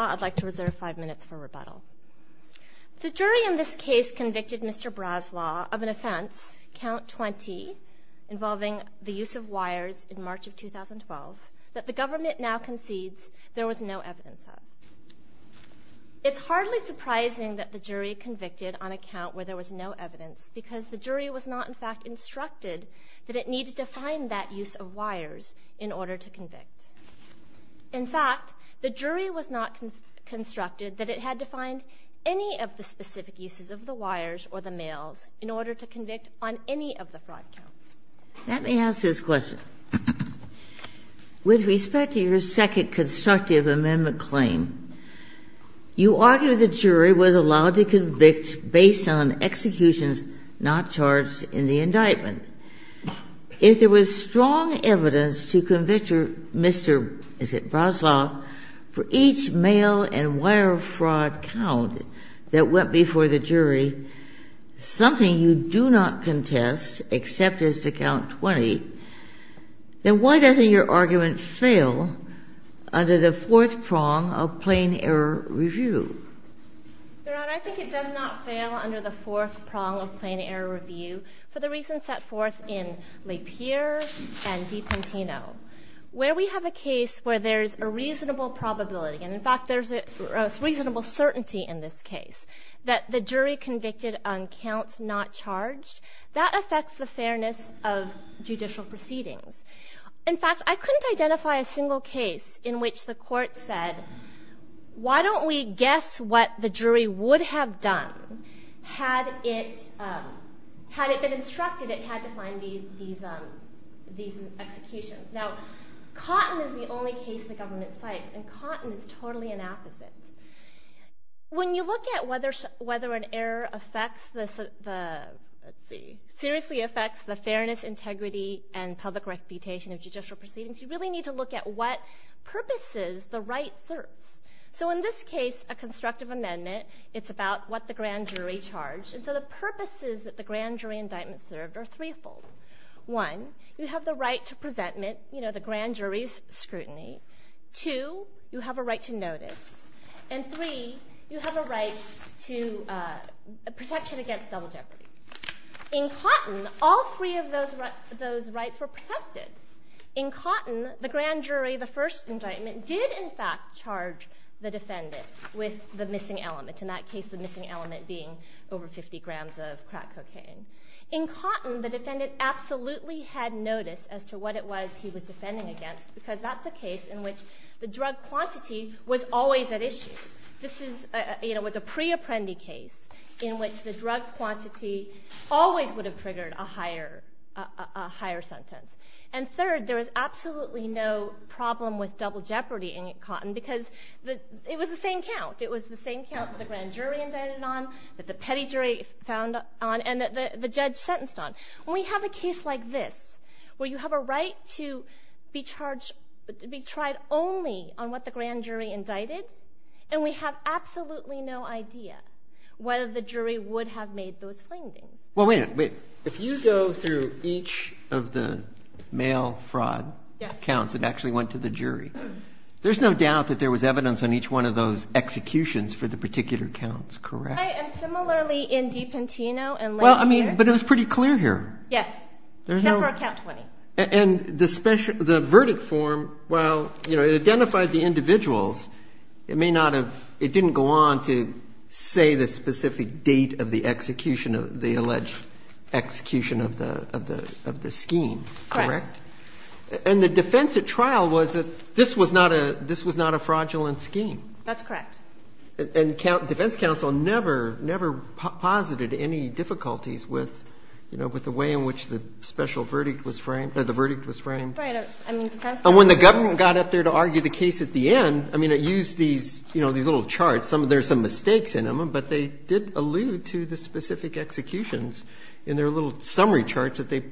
I'd like to reserve five minutes for rebuttal. The jury in this case convicted Mr. Braslau of an offense, count 20, involving the use of wires in March of 2012, that the government now concedes there was no evidence of. It's hardly surprising that the jury convicted on a count where there was no evidence because the jury was not in fact instructed that it had to find that use of wires in order to convict. In fact, the jury was not constructed that it had to find any of the specific uses of the wires or the mails in order to convict on any of the five counts. Ginsburg. Let me ask this question. With respect to your second constructive amendment claim, you argue the jury was allowed to convict based on executions not charged in the indictment. If there was strong evidence to convict Mr. Braslau for each mail and wire fraud count that went before the jury, something you do not contest except as to count 20, then why doesn't your argument fail under the fourth prong of plain error review? Your Honor, I think it does not fail under the fourth prong of plain error review for the reasons set forth in Lapeer and Dipentino. Where we have a case where there's a reasonable probability, and in fact there's a reasonable certainty in this case, that the jury convicted on counts not charged, that affects the fairness of judicial proceedings. In fact, I couldn't guess what the jury would have done had it been instructed it had to find these executions. Now, Cotton is the only case the government cites, and Cotton is totally an opposite. When you look at whether an error seriously affects the fairness, integrity, and public reputation of judicial proceedings, you really need to look at what purposes the right serves. So in this case, a constructive amendment, it's about what the grand jury charged. And so the purposes that the grand jury indictment served are threefold. One, you have the right to presentment, you know, the grand jury's scrutiny. Two, you have a right to notice. And three, you have a right to protection against double jeopardy. In Cotton, all three of those rights were protected. In Cotton, the grand jury, the first indictment, did in fact charge the defendant with the missing element. In that case, the missing element being over 50 grams of crack cocaine. In Cotton, the defendant absolutely had notice as to what it was he was defending against, because that's a case in which the drug quantity was always at issue. This is, you know, it was a pre-apprendi case in which the drug quantity always would have triggered a higher sentence. And third, there was absolutely no problem with double jeopardy in Cotton, because it was the same count. It was the same count that the grand jury indicted on, that the petty jury found on, and that the judge sentenced on. When we have a case like this, where you have a right to be charged, to be tried only on what the grand jury indicted, and we have absolutely no idea whether the jury would have made those findings. Well, wait a minute. If you go through each of the mail fraud counts that actually went to the jury, there's no doubt that there was evidence on each one of those executions for the particular counts, correct? Right, and similarly in DiPantino and Laid Clear. Well, I mean, but it was pretty clear here. Yes. Except for count 20. And the verdict form, well, you know, it identified the individuals. It may not have, it didn't go on to say the specific date of the execution of, the alleged execution of the scheme, correct? And the defense at trial was that this was not a fraudulent scheme. That's correct. And defense counsel never posited any difficulties with, you know, with the way in which the special verdict was framed, or the verdict was framed. Right. And when the government got up there to argue the case at the end, I mean, it used these, you know, these little charts. There's some mistakes in them, but they did allude to the specific executions in their little summary charts that they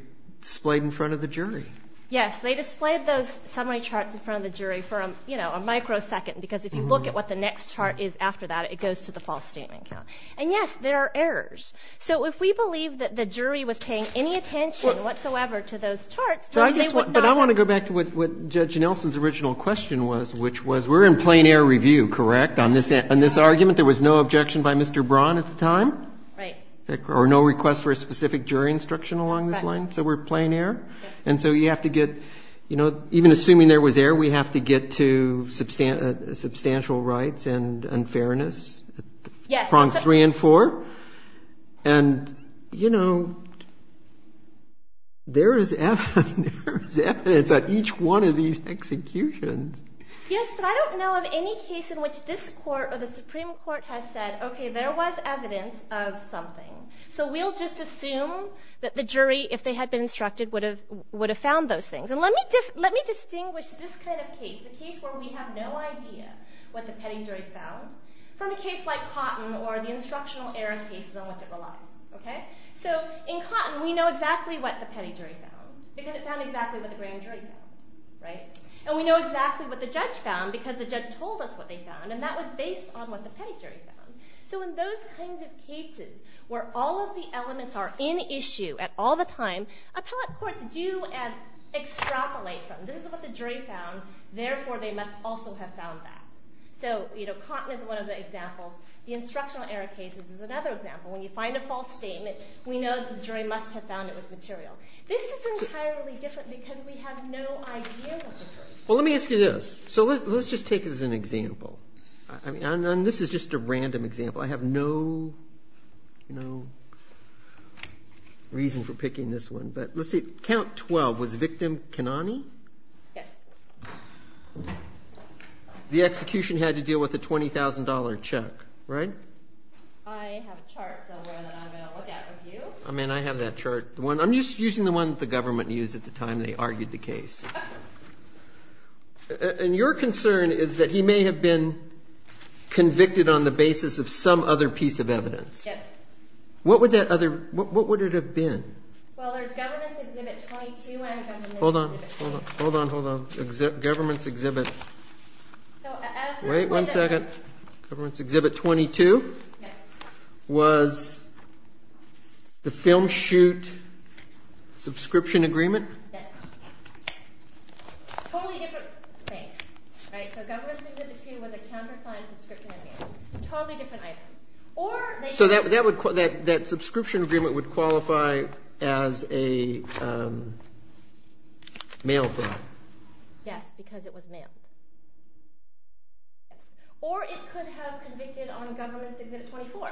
displayed in front of the jury. Yes. They displayed those summary charts in front of the jury for, you know, a microsecond, because if you look at what the next chart is after that, it goes to the false statement count. And, yes, there are errors. So if we believe that the jury was paying any attention whatsoever to those charts, then they would not have been. But I want to go back to what Judge Nelson's original question was, which was, we're in plain-air review, correct, on this argument? There was no objection by Mr. Braun at the time? Or no request for a specific jury instruction along this line? Right. So we're plain-air? And so you have to get, you know, even assuming there was error, we have to get to substantial rights and unfairness, prongs three and four. And, you know, there is evidence on each one of these executions. Yes, but I don't know of any case in which this court or the Supreme Court has said, OK, there was evidence of something. So we'll just assume that the jury, if they had been instructed, would have found those things. And let me distinguish this kind of case, the case where we have no idea what the petty jury found, from a case like Cotton or the instructional error cases on which it relies. OK? So in Cotton, we know exactly what the petty jury found, because it found exactly what the grand jury found, right? And we know exactly what the judge found, because the So in those kinds of cases, where all of the elements are in issue at all the time, appellate courts do extrapolate from, this is what the jury found, therefore they must also have found that. So, you know, Cotton is one of the examples. The instructional error cases is another example. When you find a false statement, we know the jury must have found it was material. This is entirely different, because we have no idea what the jury found. Well, let me ask you this. So let's just take it as an example. I mean, and this is just a random example. I have no, you know, reason for picking this one. But let's see. Count 12, was victim Kanani? Yes. The execution had to deal with a $20,000 check, right? I have a chart somewhere that I'm going to look at with you. I mean, I have that chart. I'm just using the one that the government used at the time they argued the case. And your concern is that he may have been convicted on the basis of some other piece of evidence. Yes. What would that other, what would it have been? Well, there's Government's Exhibit 22 and... Hold on, hold on, hold on. Government's Exhibit... Wait one second. Government's Exhibit 22? Yes. Was the film shoot subscription agreement? Yes. Totally different things. Right, so Government's Exhibit 2 was a counter-signed subscription agreement. Totally different items. So that subscription agreement would qualify as a mail fraud? Yes, because it was mailed. Or it could have convicted on Government's Exhibit 24,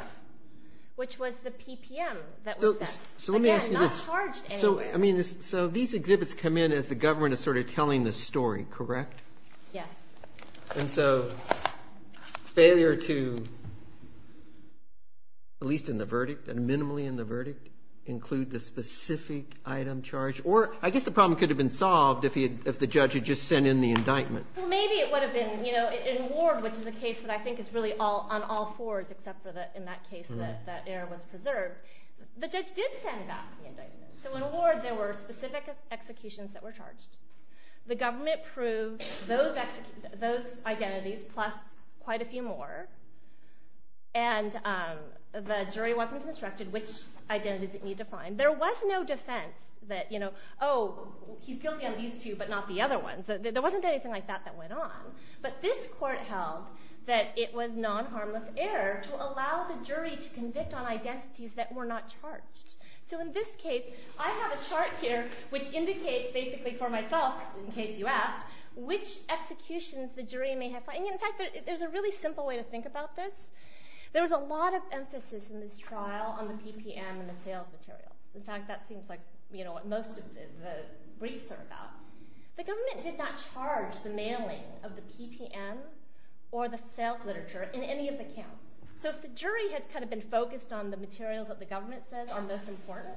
which was the PPM that was set. So let me ask you this. Again, not charged in any way. So these exhibits come in as the PPM. And so failure to, at least in the verdict, and minimally in the verdict, include the specific item charged? Or I guess the problem could have been solved if the judge had just sent in the indictment. Well, maybe it would have been. In Ward, which is a case that I think is really on all fours except for in that case that error was preserved, the judge did send back the indictment. So in Ward there were specific executions that were charged. The government proved those identities, plus quite a few more. And the jury wasn't instructed which identities it needed to find. There was no defense that, oh, he's guilty on these two but not the other ones. There wasn't anything like that that went on. But this court held that it was non-harmless error to allow the jury to convict on identities that were not charged. In fact, there's a really simple way to think about this. There was a lot of emphasis in this trial on the PPM and the sales material. In fact, that seems like what most of the briefs are about. The government did not charge the mailing of the PPM or the sales literature in any of the counts. So if the jury had kind of been focused on the materials that the government says are most important,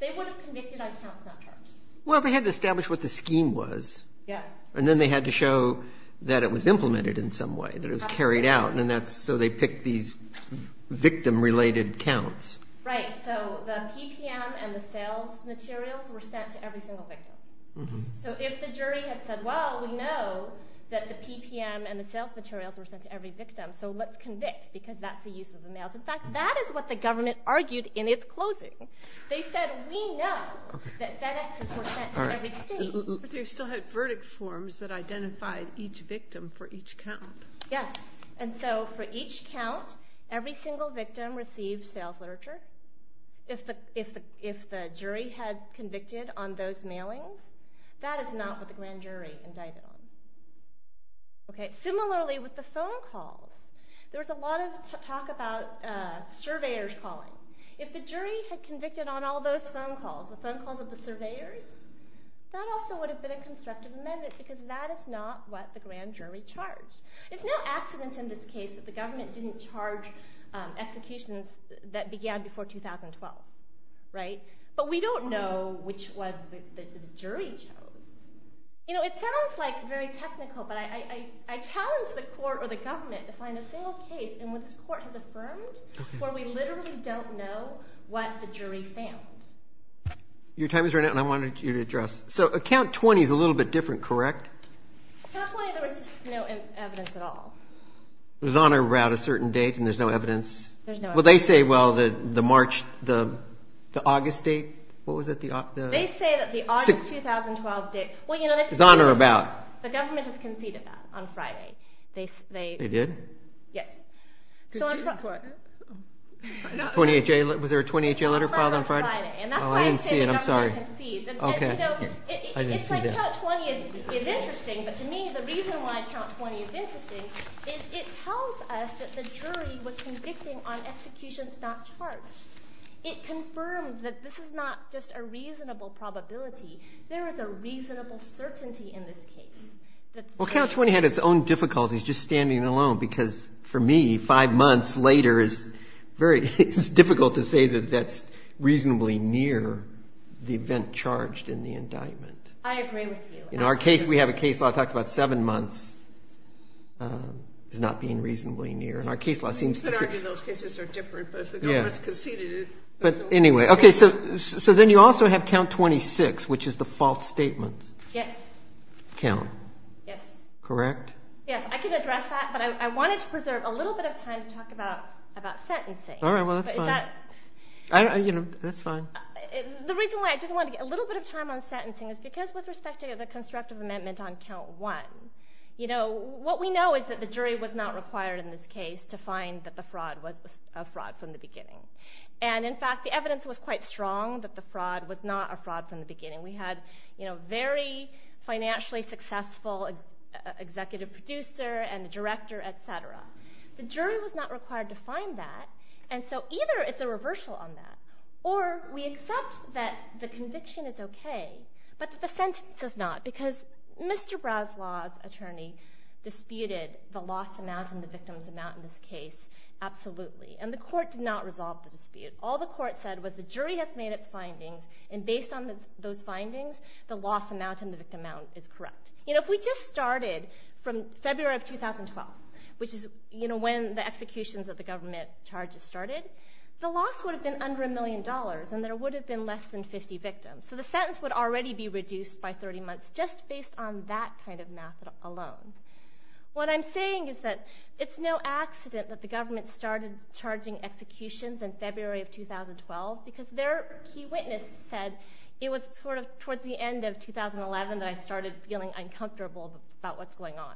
they would have convicted on counts that were not charged. Well, they had to establish what the scheme was. Yes. And then they had to show that it was implemented in some way, that it was carried out. And so they picked these victim-related counts. Right. So the PPM and the sales materials were sent to every single victim. So if the jury had said, well, we know that the PPM and the sales materials were sent to every victim, so let's convict because that's the use of the mails. In fact, that is what the government argued in its closing. They said, we know that FedExes were sent to every state. But they still had verdict forms that identified each victim for each count. Yes. And so for each count, every single victim received sales literature. If the jury had convicted on those mailings, that is not what the grand jury indicted on. Okay. Similarly, with the phone calls, there was a lot of talk about surveyors calling. If the jury had convicted on all those phone calls, the phone calls of the surveyors, that also would have been a constructive amendment because that is not what the grand jury charged. It's no accident in this case that the government didn't charge executions that began before 2012, right? But we don't know which one the jury chose. You know, it sounds like very technical, but I challenge the court or the government to find a single case in which this court has affirmed where we literally don't know what the jury found. Your time is running out, and I wanted you to address. So account 20 is a little bit different, correct? Account 20, there was just no evidence at all. It was on or out a certain date, and there's no evidence? There's no evidence. Well, they say, well, the March, the August date, what was it? They say that the August 2012 date. It was on or about? The government has conceded that on Friday. They did? Yes. Was there a 28-J letter filed on Friday? On Friday, and that's why I say the government conceded. Oh, I didn't see it. I'm sorry. It tells us that the jury was convicting on executions not charged. It confirms that this is not just a reasonable probability. There is a reasonable certainty in this case. Well, account 20 had its own difficulties just standing alone, because for me, five months later is very difficult to say that that's reasonably near the event charged in the indictment. I agree with you. We have a case law that talks about seven months as not being reasonably near, and our case law seems to say- You could argue those cases are different, but if the government's conceded it- But anyway. Okay, so then you also have count 26, which is the false statement count. Yes. Correct? Yes. I can address that, but I wanted to preserve a little bit of time to talk about sentencing. All right. Well, that's fine. Is that- That's fine. The reason why I just wanted to get a little bit of time on sentencing is because just with respect to the constructive amendment on count one, what we know is that the jury was not required in this case to find that the fraud was a fraud from the beginning. In fact, the evidence was quite strong that the fraud was not a fraud from the beginning. We had a very financially successful executive producer and director, et cetera. The jury was not required to find that, and so either it's a reversal on that, or we accept that the conviction is okay, but that the sentence is not because Mr. Braslaw's attorney disputed the loss amount and the victim's amount in this case absolutely, and the court did not resolve the dispute. All the court said was the jury had made its findings, and based on those findings, the loss amount and the victim amount is correct. If we just started from February of 2012, which is when the executions of the government charges started, the loss would have been under a million dollars, and there would have been less than 50 victims, so the sentence would already be reduced by 30 months just based on that kind of math alone. What I'm saying is that it's no accident that the government started charging executions in February of 2012, because their key witness said it was sort of towards the end of 2011 that I started feeling uncomfortable about what's going on.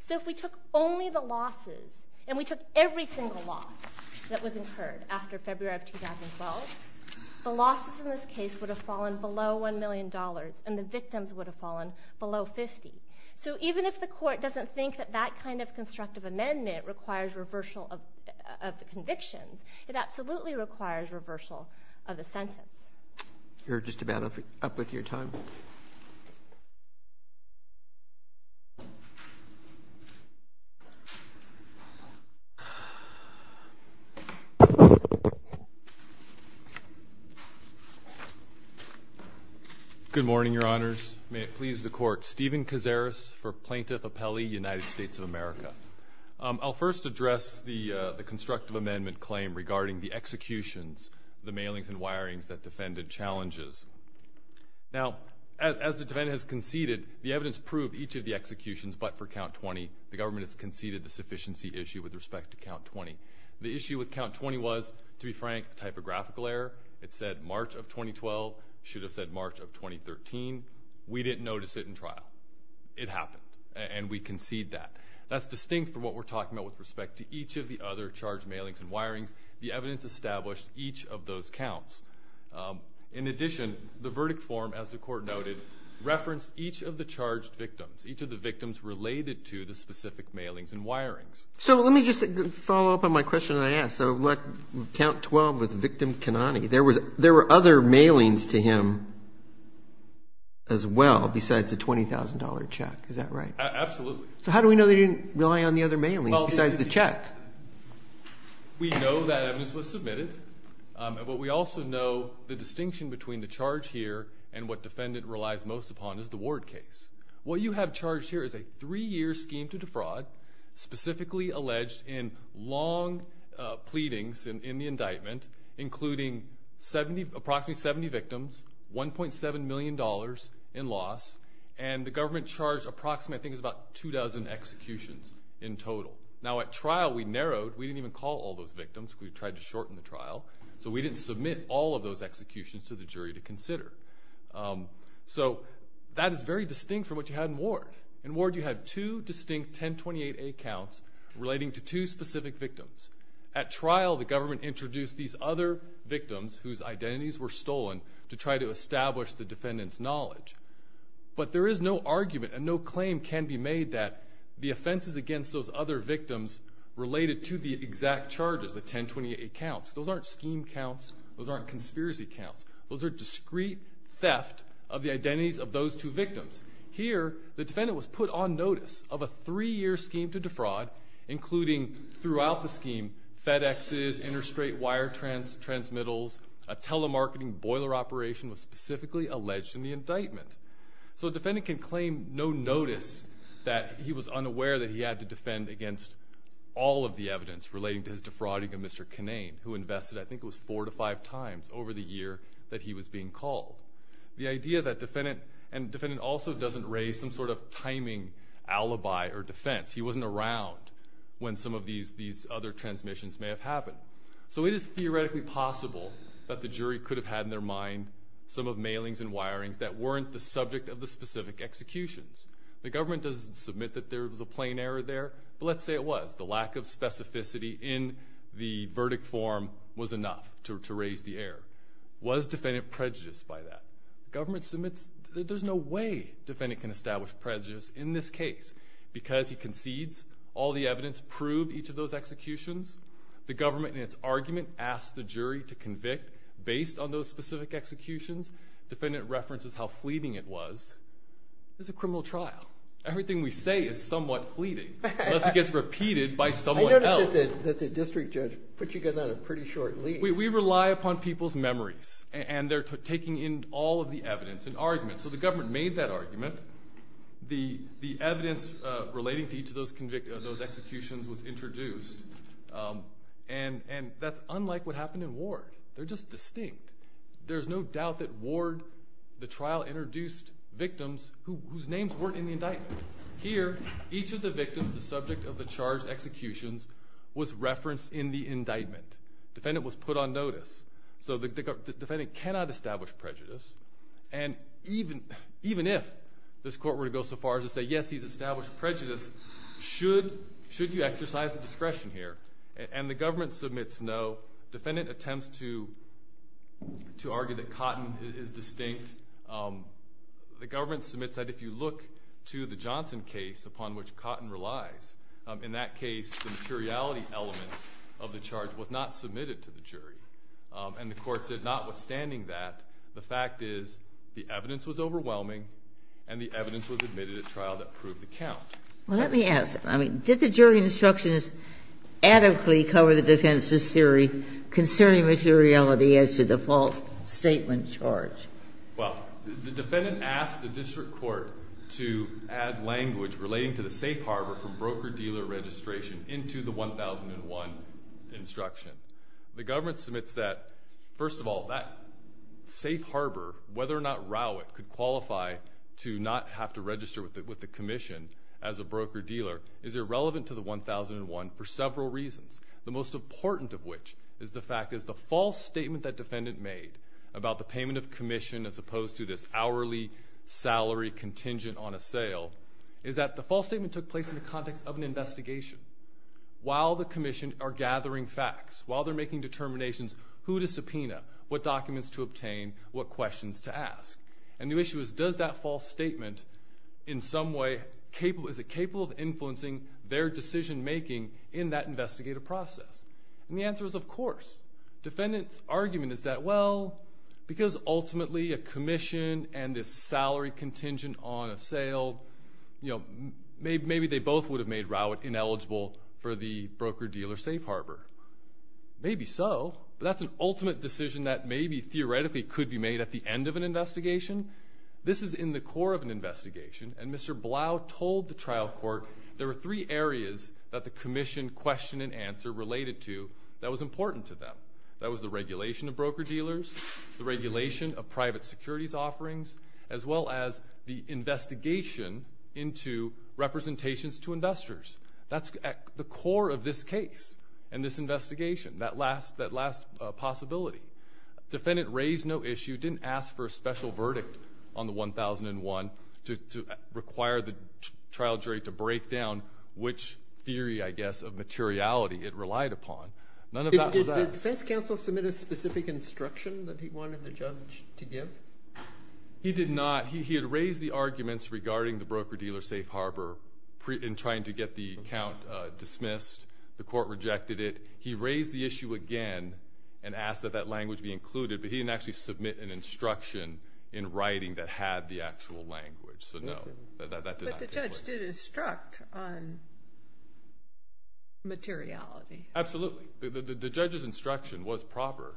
So if we took only the losses, and we took every single loss that was incurred after February of 2012, the losses in this case would have fallen below one million dollars, and the victims would have fallen below 50. So even if the court doesn't think that that kind of constructive amendment requires reversal of convictions, it absolutely requires reversal of the sentence. You're just about up with your time. Good morning, Your Honors. May it please the Court. Stephen Cazares for Plaintiff Appellee, United States of America. I'll first address the constructive amendment claim regarding the executions, the mailings and wirings that defended challenges. Now, as the defendant has conceded, the evidence proved each of the executions, but for count 20, the government has conceded the sufficiency issue with respect to count 20. The issue with count 20 was, to be frank, a typographical error. It said March of 2012. It should have said March of 2013. We didn't notice it in trial. It happened, and we concede that. That's distinct from what we're talking about with respect to each of the other charged mailings and wirings. The evidence established each of those counts. In addition, the verdict form, as the Court noted, referenced each of the charged victims, each of the victims related to the specific mailings and wirings. So let me just follow up on my question that I asked. So count 12 with victim Kanani, there were other mailings to him as well besides the $20,000 check. Is that right? Absolutely. So how do we know they didn't rely on the other mailings besides the check? We know that evidence was submitted, but we also know the distinction between the charge here and what defendant relies most upon is the ward case. What you have charged here is a three-year scheme to defraud, specifically alleged in long pleadings in the indictment, including approximately 70 victims, $1.7 million in loss, and the government charged approximately, I think, about two dozen executions in total. Now at trial, we narrowed. We didn't even call all those victims. We tried to shorten the trial. So we didn't submit all of those executions to the jury to consider. So that is very distinct from what you had in ward. In ward, you had two distinct 1028A counts relating to two specific victims. At trial, the government introduced these other victims whose identities were stolen to try to establish the defendant's knowledge. But there is no argument and no claim can be made that the offenses against those other victims related to the exact charges, the 1028A counts. Those aren't scheme counts. Those aren't conspiracy counts. Those are discrete theft of the identities of those two victims. Here, the defendant was put on notice of a three-year scheme to defraud, including, throughout the scheme, FedExes, interstate wire transmittals, a telemarketing boiler operation was specifically alleged in the indictment. So the defendant can claim no notice that he was unaware that he had to defend against all of the evidence relating to his defrauding of Mr. Kinane, who invested, I think it was four to five times over the year that he was being called. The idea that defendant, and defendant also doesn't raise some sort of timing alibi or defense. He wasn't around when some of these other transmissions may have happened. So it is theoretically possible that the jury could have had in their mind some of mailings and wirings that weren't the subject of the specific executions. The government doesn't submit that there was a plain error there. But let's say it was. The lack of specificity in the verdict form was enough to raise the error. Was defendant prejudiced by that? Government submits that there's no way defendant can establish prejudice in this case. Because he concedes all the evidence to prove each of those executions, the government in its argument asks the jury to convict based on those specific executions. Defendant references how fleeting it was. This is a criminal trial. Everything we say is somewhat fleeting. Unless it gets repeated by someone else. I noticed that the district judge put you guys on a pretty short lease. We rely upon people's memories. And they're taking in all of the evidence and arguments. So the government made that argument. The evidence relating to each of those executions was introduced. And that's unlike what happened in Ward. They're just distinct. There's no doubt that Ward, the trial, introduced victims whose names weren't in the indictment. Here, each of the victims, the subject of the charged executions, was referenced in the indictment. Defendant was put on notice. So the defendant cannot establish prejudice. And even if this court were to go so far as to say, yes, he's established prejudice, should you exercise the discretion here? And the government submits no. Defendant attempts to argue that Cotton is distinct. The government submits that if you look to the Johnson case, upon which Cotton relies, in that case, the materiality element of the charge was not submitted to the jury. And the court said, notwithstanding that, the fact is, the evidence was overwhelming, and the evidence was admitted at trial that proved the count. Well, let me ask, did the jury instructions adequately cover the defendant's theory concerning materiality as to the false statement charge? Well, the defendant asked the district court to add language relating to the safe harbor from broker-dealer registration into the 1001 instruction. The government submits that, first of all, that safe harbor, whether or not Rowett could qualify to not have to register with the commission as a broker-dealer, is irrelevant to the 1001 for several reasons. The most important of which is the fact that the false statement that defendant made about the payment of commission as opposed to this hourly salary contingent on a sale, is that the false statement took place in the context of an investigation. While the commission are gathering facts, while they're making determinations, who to subpoena, what documents to obtain, what questions to ask. And the issue is, does that false statement, in some way, is it capable of influencing their decision-making in that investigative process? And the answer is, of course. Defendant's argument is that, well, because ultimately a commission and this salary contingent on a sale, you know, maybe they both would have made Rowett ineligible for the broker-dealer safe harbor. Maybe so, but that's an ultimate decision that maybe theoretically could be made at the end of an investigation. This is in the core of an investigation, and Mr. Blau told the trial court there were three areas that the commission questioned and answer related to that was important to them. That was the regulation of broker-dealers, the regulation of private securities offerings, as well as the investigation into representations to investors. That's at the core of this case and this investigation, that last possibility. Defendant raised no issue, didn't ask for a special verdict on the 1001, to require the trial jury to break down which theory, I guess, of materiality it relied upon. None of that was asked. Did defense counsel submit a specific instruction that he wanted the judge to give? He did not. He had raised the arguments regarding the broker-dealer safe harbor in trying to get the account dismissed. The court rejected it. He raised the issue again and asked that that language be included, but he didn't actually submit an instruction in writing that had the actual language, so no, that did not take place. But the judge did instruct on materiality. Absolutely. The judge's instruction was proper.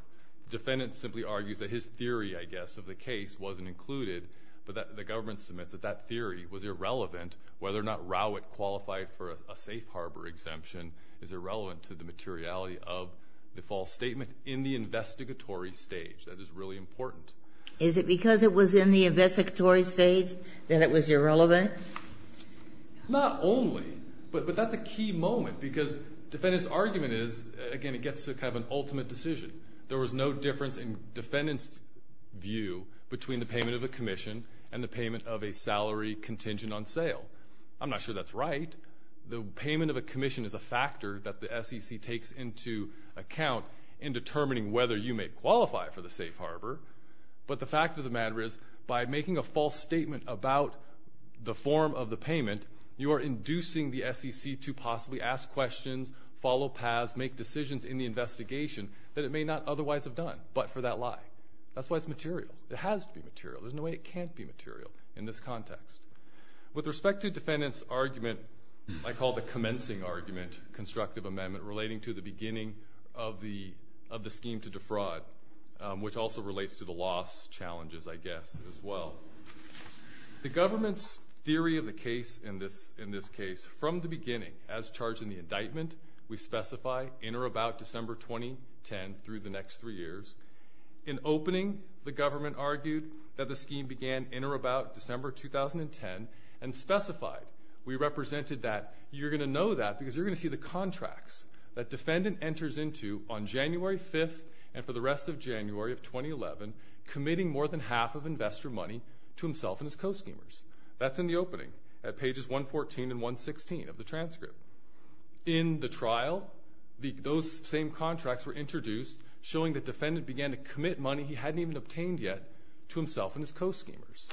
Defendant simply argues that his theory, I guess, of the case wasn't included, but the government submits that that theory was irrelevant, whether or not Rowett qualified for a safe harbor exemption is irrelevant to the materiality of the false statement in the investigatory stage. That is really important. Is it because it was in the investigatory stage that it was irrelevant? Not only, but that's a key moment because defendant's argument is, again, it gets to kind of an ultimate decision. There was no difference in defendant's view between the payment of a commission and the payment of a salary contingent on sale. I'm not sure that's right. The payment of a commission is a factor that the SEC takes into account in determining whether you may qualify for the safe harbor, but the fact of the matter is by making a false statement about the form of the payment, you are inducing the SEC to possibly ask questions, follow paths, make decisions in the investigation that it may not otherwise have done but for that lie. That's why it's material. It has to be material. There's no way it can't be material in this context. With respect to defendant's argument, I call the commencing argument constructive amendment relating to the beginning of the scheme to defraud, which also relates to the loss challenges, I guess, as well. The government's theory of the case in this case, from the beginning, as charged in the indictment, we specify in or about December 2010 through the next three years. In opening, the government argued that the scheme began in or about December 2010 and specified. We represented that you're going to know that because you're going to see the contracts that defendant enters into on January 5th and for the rest of January of 2011, committing more than half of investor money to himself and his co-schemers. That's in the opening at pages 114 and 116 of the transcript. In the trial, those same contracts were introduced, showing that defendant began to commit money he hadn't even obtained yet to himself and his co-schemers.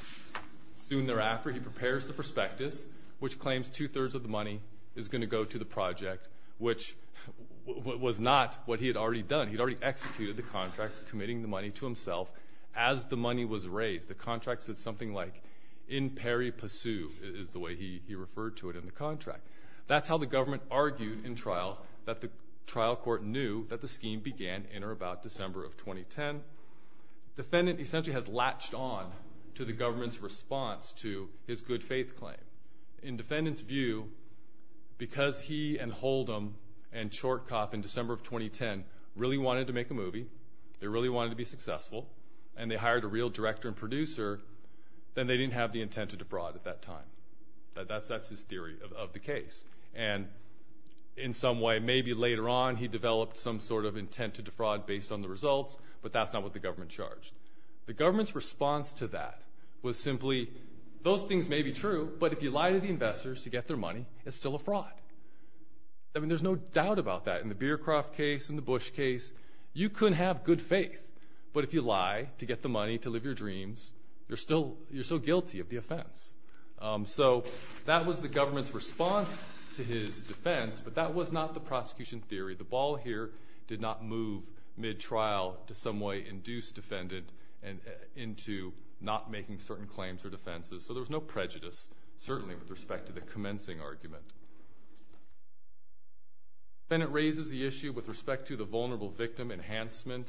Soon thereafter, he prepares the prospectus, which claims two-thirds of the money is going to go to the project, which was not what he had already done. He'd already executed the contracts, committing the money to himself as the money was raised. The contract said something like, in peri pursu, is the way he referred to it in the contract. That's how the government argued in trial that the trial court knew that the scheme began in or about December of 2010. Defendant essentially has latched on to the government's response to his good-faith claim. In defendant's view, because he and Holdom and Chortkoff in December of 2010 really wanted to make a movie, they really wanted to be successful, and they hired a real director and producer, then they didn't have the intent to defraud at that time. That's his theory of the case. And in some way, maybe later on, he developed some sort of intent to defraud based on the results, but that's not what the government charged. The government's response to that was simply, those things may be true, but if you lie to the investors to get their money, it's still a fraud. I mean, there's no doubt about that. In the Beercroft case, in the Bush case, you could have good faith, but if you lie to get the money to live your dreams, you're still guilty of the offense. So that was the government's response to his defense, but that was not the prosecution theory. The ball here did not move mid-trial to some way induce defendant into not making certain claims or defenses. So there was no prejudice, certainly, with respect to the commencing argument. Then it raises the issue with respect to the vulnerable victim enhancement,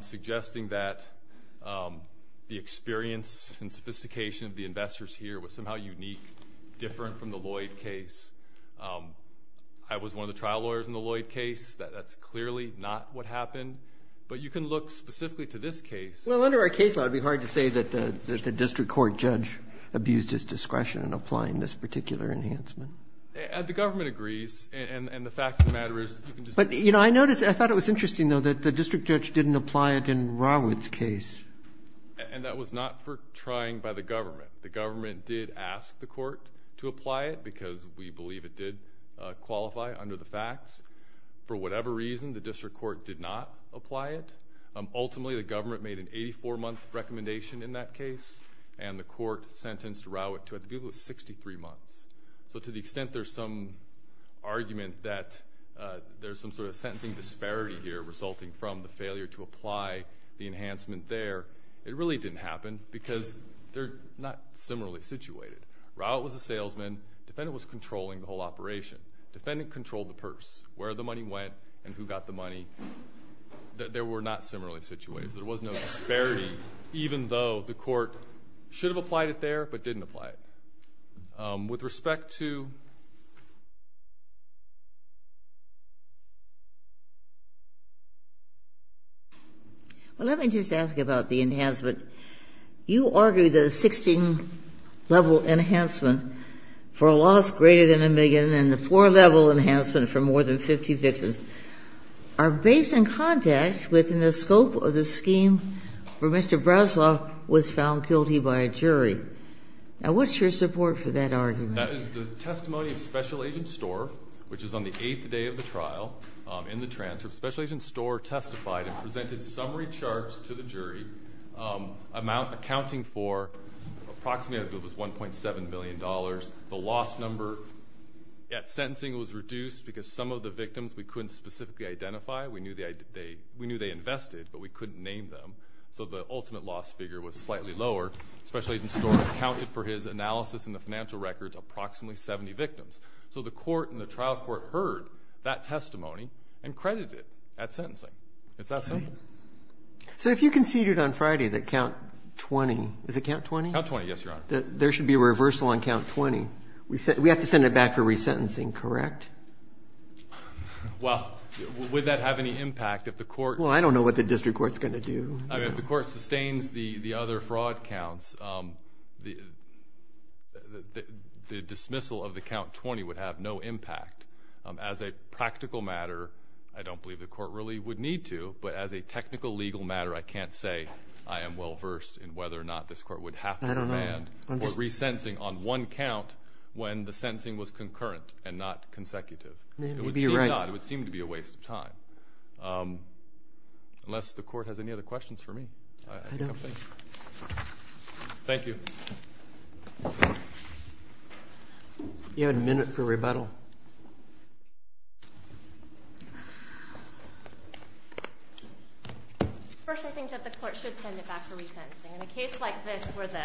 suggesting that the experience and sophistication of the investors here was somehow unique, different from the Lloyd case. I was one of the trial lawyers in the Lloyd case. That's clearly not what happened. But you can look specifically to this case. Well, under our case law, it would be hard to say that the district court judge abused his discretion in applying this particular enhancement. The government agrees, and the fact of the matter is... But, you know, I noticed, I thought it was interesting, though, that the district judge didn't apply it in Rawood's case. And that was not for trying by the government. The government did ask the court to apply it, because we believe it did qualify under the facts. For whatever reason, the district court did not apply it. Ultimately, the government made an 84-month recommendation in that case, and the court sentenced Rawood to, I think it was 63 months. So to the extent there's some argument that there's some sort of sentencing disparity here, resulting from the failure to apply the enhancement there, it really didn't happen, because they're not similarly situated. Rawood was a salesman. Defendant was controlling the whole operation. Defendant controlled the purse, where the money went, and who got the money. They were not similarly situated. There was no disparity, even though the court should have applied it there, but didn't apply it. With respect to... Well, let me just ask about the enhancement. You argue that a 16-level enhancement for a loss greater than a million and the four-level enhancement for more than 50 victims are based in context within the scope of the scheme where Mr. Breslau was found guilty by a jury. Now, what's your support for that argument? That is the testimony of Special Agent Storr, which is on the eighth day of the trial, in the transfer. Special Agent Storr testified and presented summary charts to the jury accounting for approximately $1.7 billion. The loss number at sentencing was reduced because some of the victims we couldn't specifically identify. We knew they invested, but we couldn't name them, so the ultimate loss figure was slightly lower. Special Agent Storr accounted for his analysis in the financial records of approximately 70 victims. So the court and the trial court heard that testimony and credited it at sentencing. It's that simple. So if you conceded on Friday that count 20... Is it count 20? Count 20, yes, Your Honor. There should be a reversal on count 20. We have to send it back for resentencing, correct? Well, would that have any impact if the court... Well, I don't know what the district court's going to do. I mean, if the court sustains the other fraud counts, the dismissal of the count 20 would have no impact. As a practical matter, I don't believe the court really would need to, but as a technical legal matter, I can't say I am well-versed in whether or not this court would have to... I don't know. ...resentencing on one count when the sentencing was concurrent and not consecutive. Maybe you're right. It would seem to be a waste of time. Unless the court has any other questions for me, I think I'm finished. I don't. Thank you. You had a minute for rebuttal. First, I think that the court should send it back for resentencing. In a case like this where the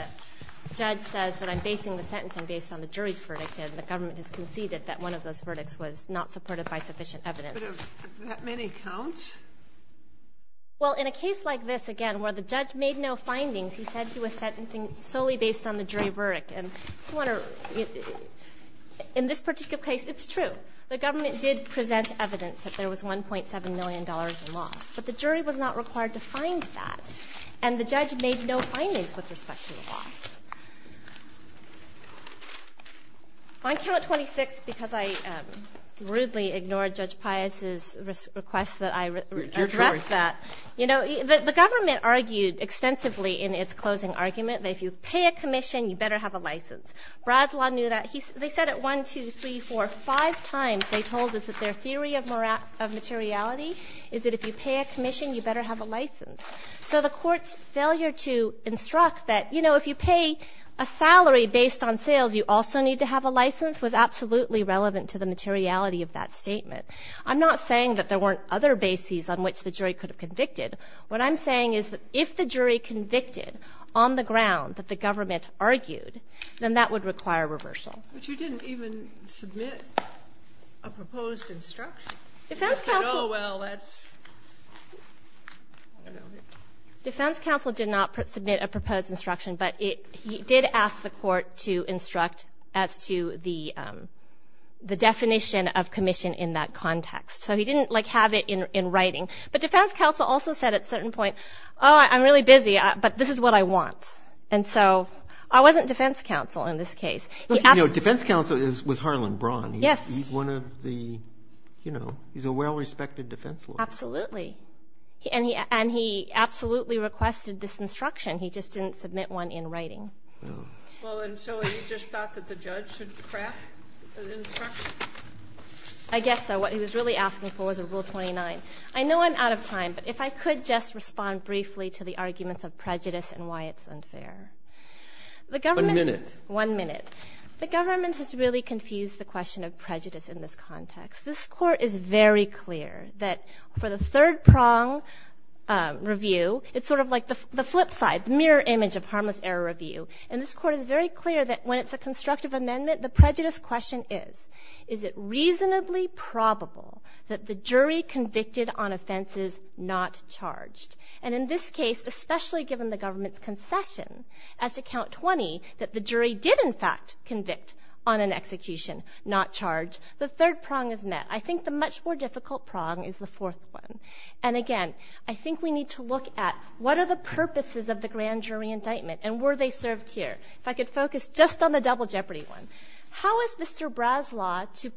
judge says that I'm basing the sentencing based on the jury's verdict and the government has conceded that one of those verdicts was not supported by sufficient evidence... But do that many count? Well, in a case like this, again, where the judge made no findings, he said he was sentencing solely based on the jury verdict. And I just want to... In this particular case, it's true. The government did present evidence that there was $1.7 million in loss. But the jury was not required to find that. And the judge made no findings with respect to the loss. On count 26, because I rudely ignored Judge Pius' request that I address that... Your choice. You know, the government argued extensively in its closing argument that if you pay a commission, you better have a license. Brazois knew that. They said it 1, 2, 3, 4, 5 times. They told us that their theory of materiality is that if you pay a commission, you better have a license. So the court's failure to instruct that, you know, if you pay a salary based on sales, you also need to have a license, was absolutely relevant to the materiality of that statement. I'm not saying that there weren't other bases on which the jury could have convicted. What I'm saying is that if the jury convicted on the ground that the government argued, then that would require reversal. But you didn't even submit a proposed instruction. Defense counsel... Oh, well, that's... Defense counsel did not submit a proposed instruction, but he did ask the court to instruct as to the definition of commission in that context. So he didn't, like, have it in writing. But defense counsel also said at a certain point, oh, I'm really busy, but this is what I want. And so I wasn't defense counsel in this case. Look, you know, defense counsel was Harlan Braun. Yes. He's one of the, you know, he's a well-respected defense lawyer. Absolutely. And he absolutely requested this instruction. He just didn't submit one in writing. Oh. Well, and so he just thought that the judge should craft an instruction? I guess so. What he was really asking for was a Rule 29. I know I'm out of time, but if I could just respond briefly to the arguments of prejudice and why it's unfair. The government... One minute. One minute. The government has really confused the question of prejudice in this context. This Court is very clear that for the third prong review, it's sort of like the flip side, the mirror image of harmless error review. And this Court is very clear that when it's a constructive amendment, the prejudice question is, is it reasonably probable that the jury convicted on offenses not charged? And in this case, especially given the government's assertion as to Count 20, that the jury did, in fact, convict on an execution not charged, the third prong is met. I think the much more difficult prong is the fourth one. And again, I think we need to look at, what are the purposes of the grand jury indictment, and were they served here? If I could focus just on the double jeopardy one. How is Mr. Braslaw to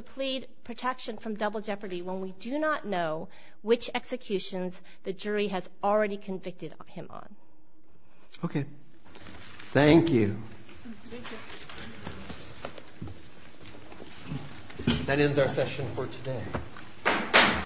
plead protection from double jeopardy when we do not know which executions the jury has already convicted him on? OK. Thank you. Thank you. That ends our session for today.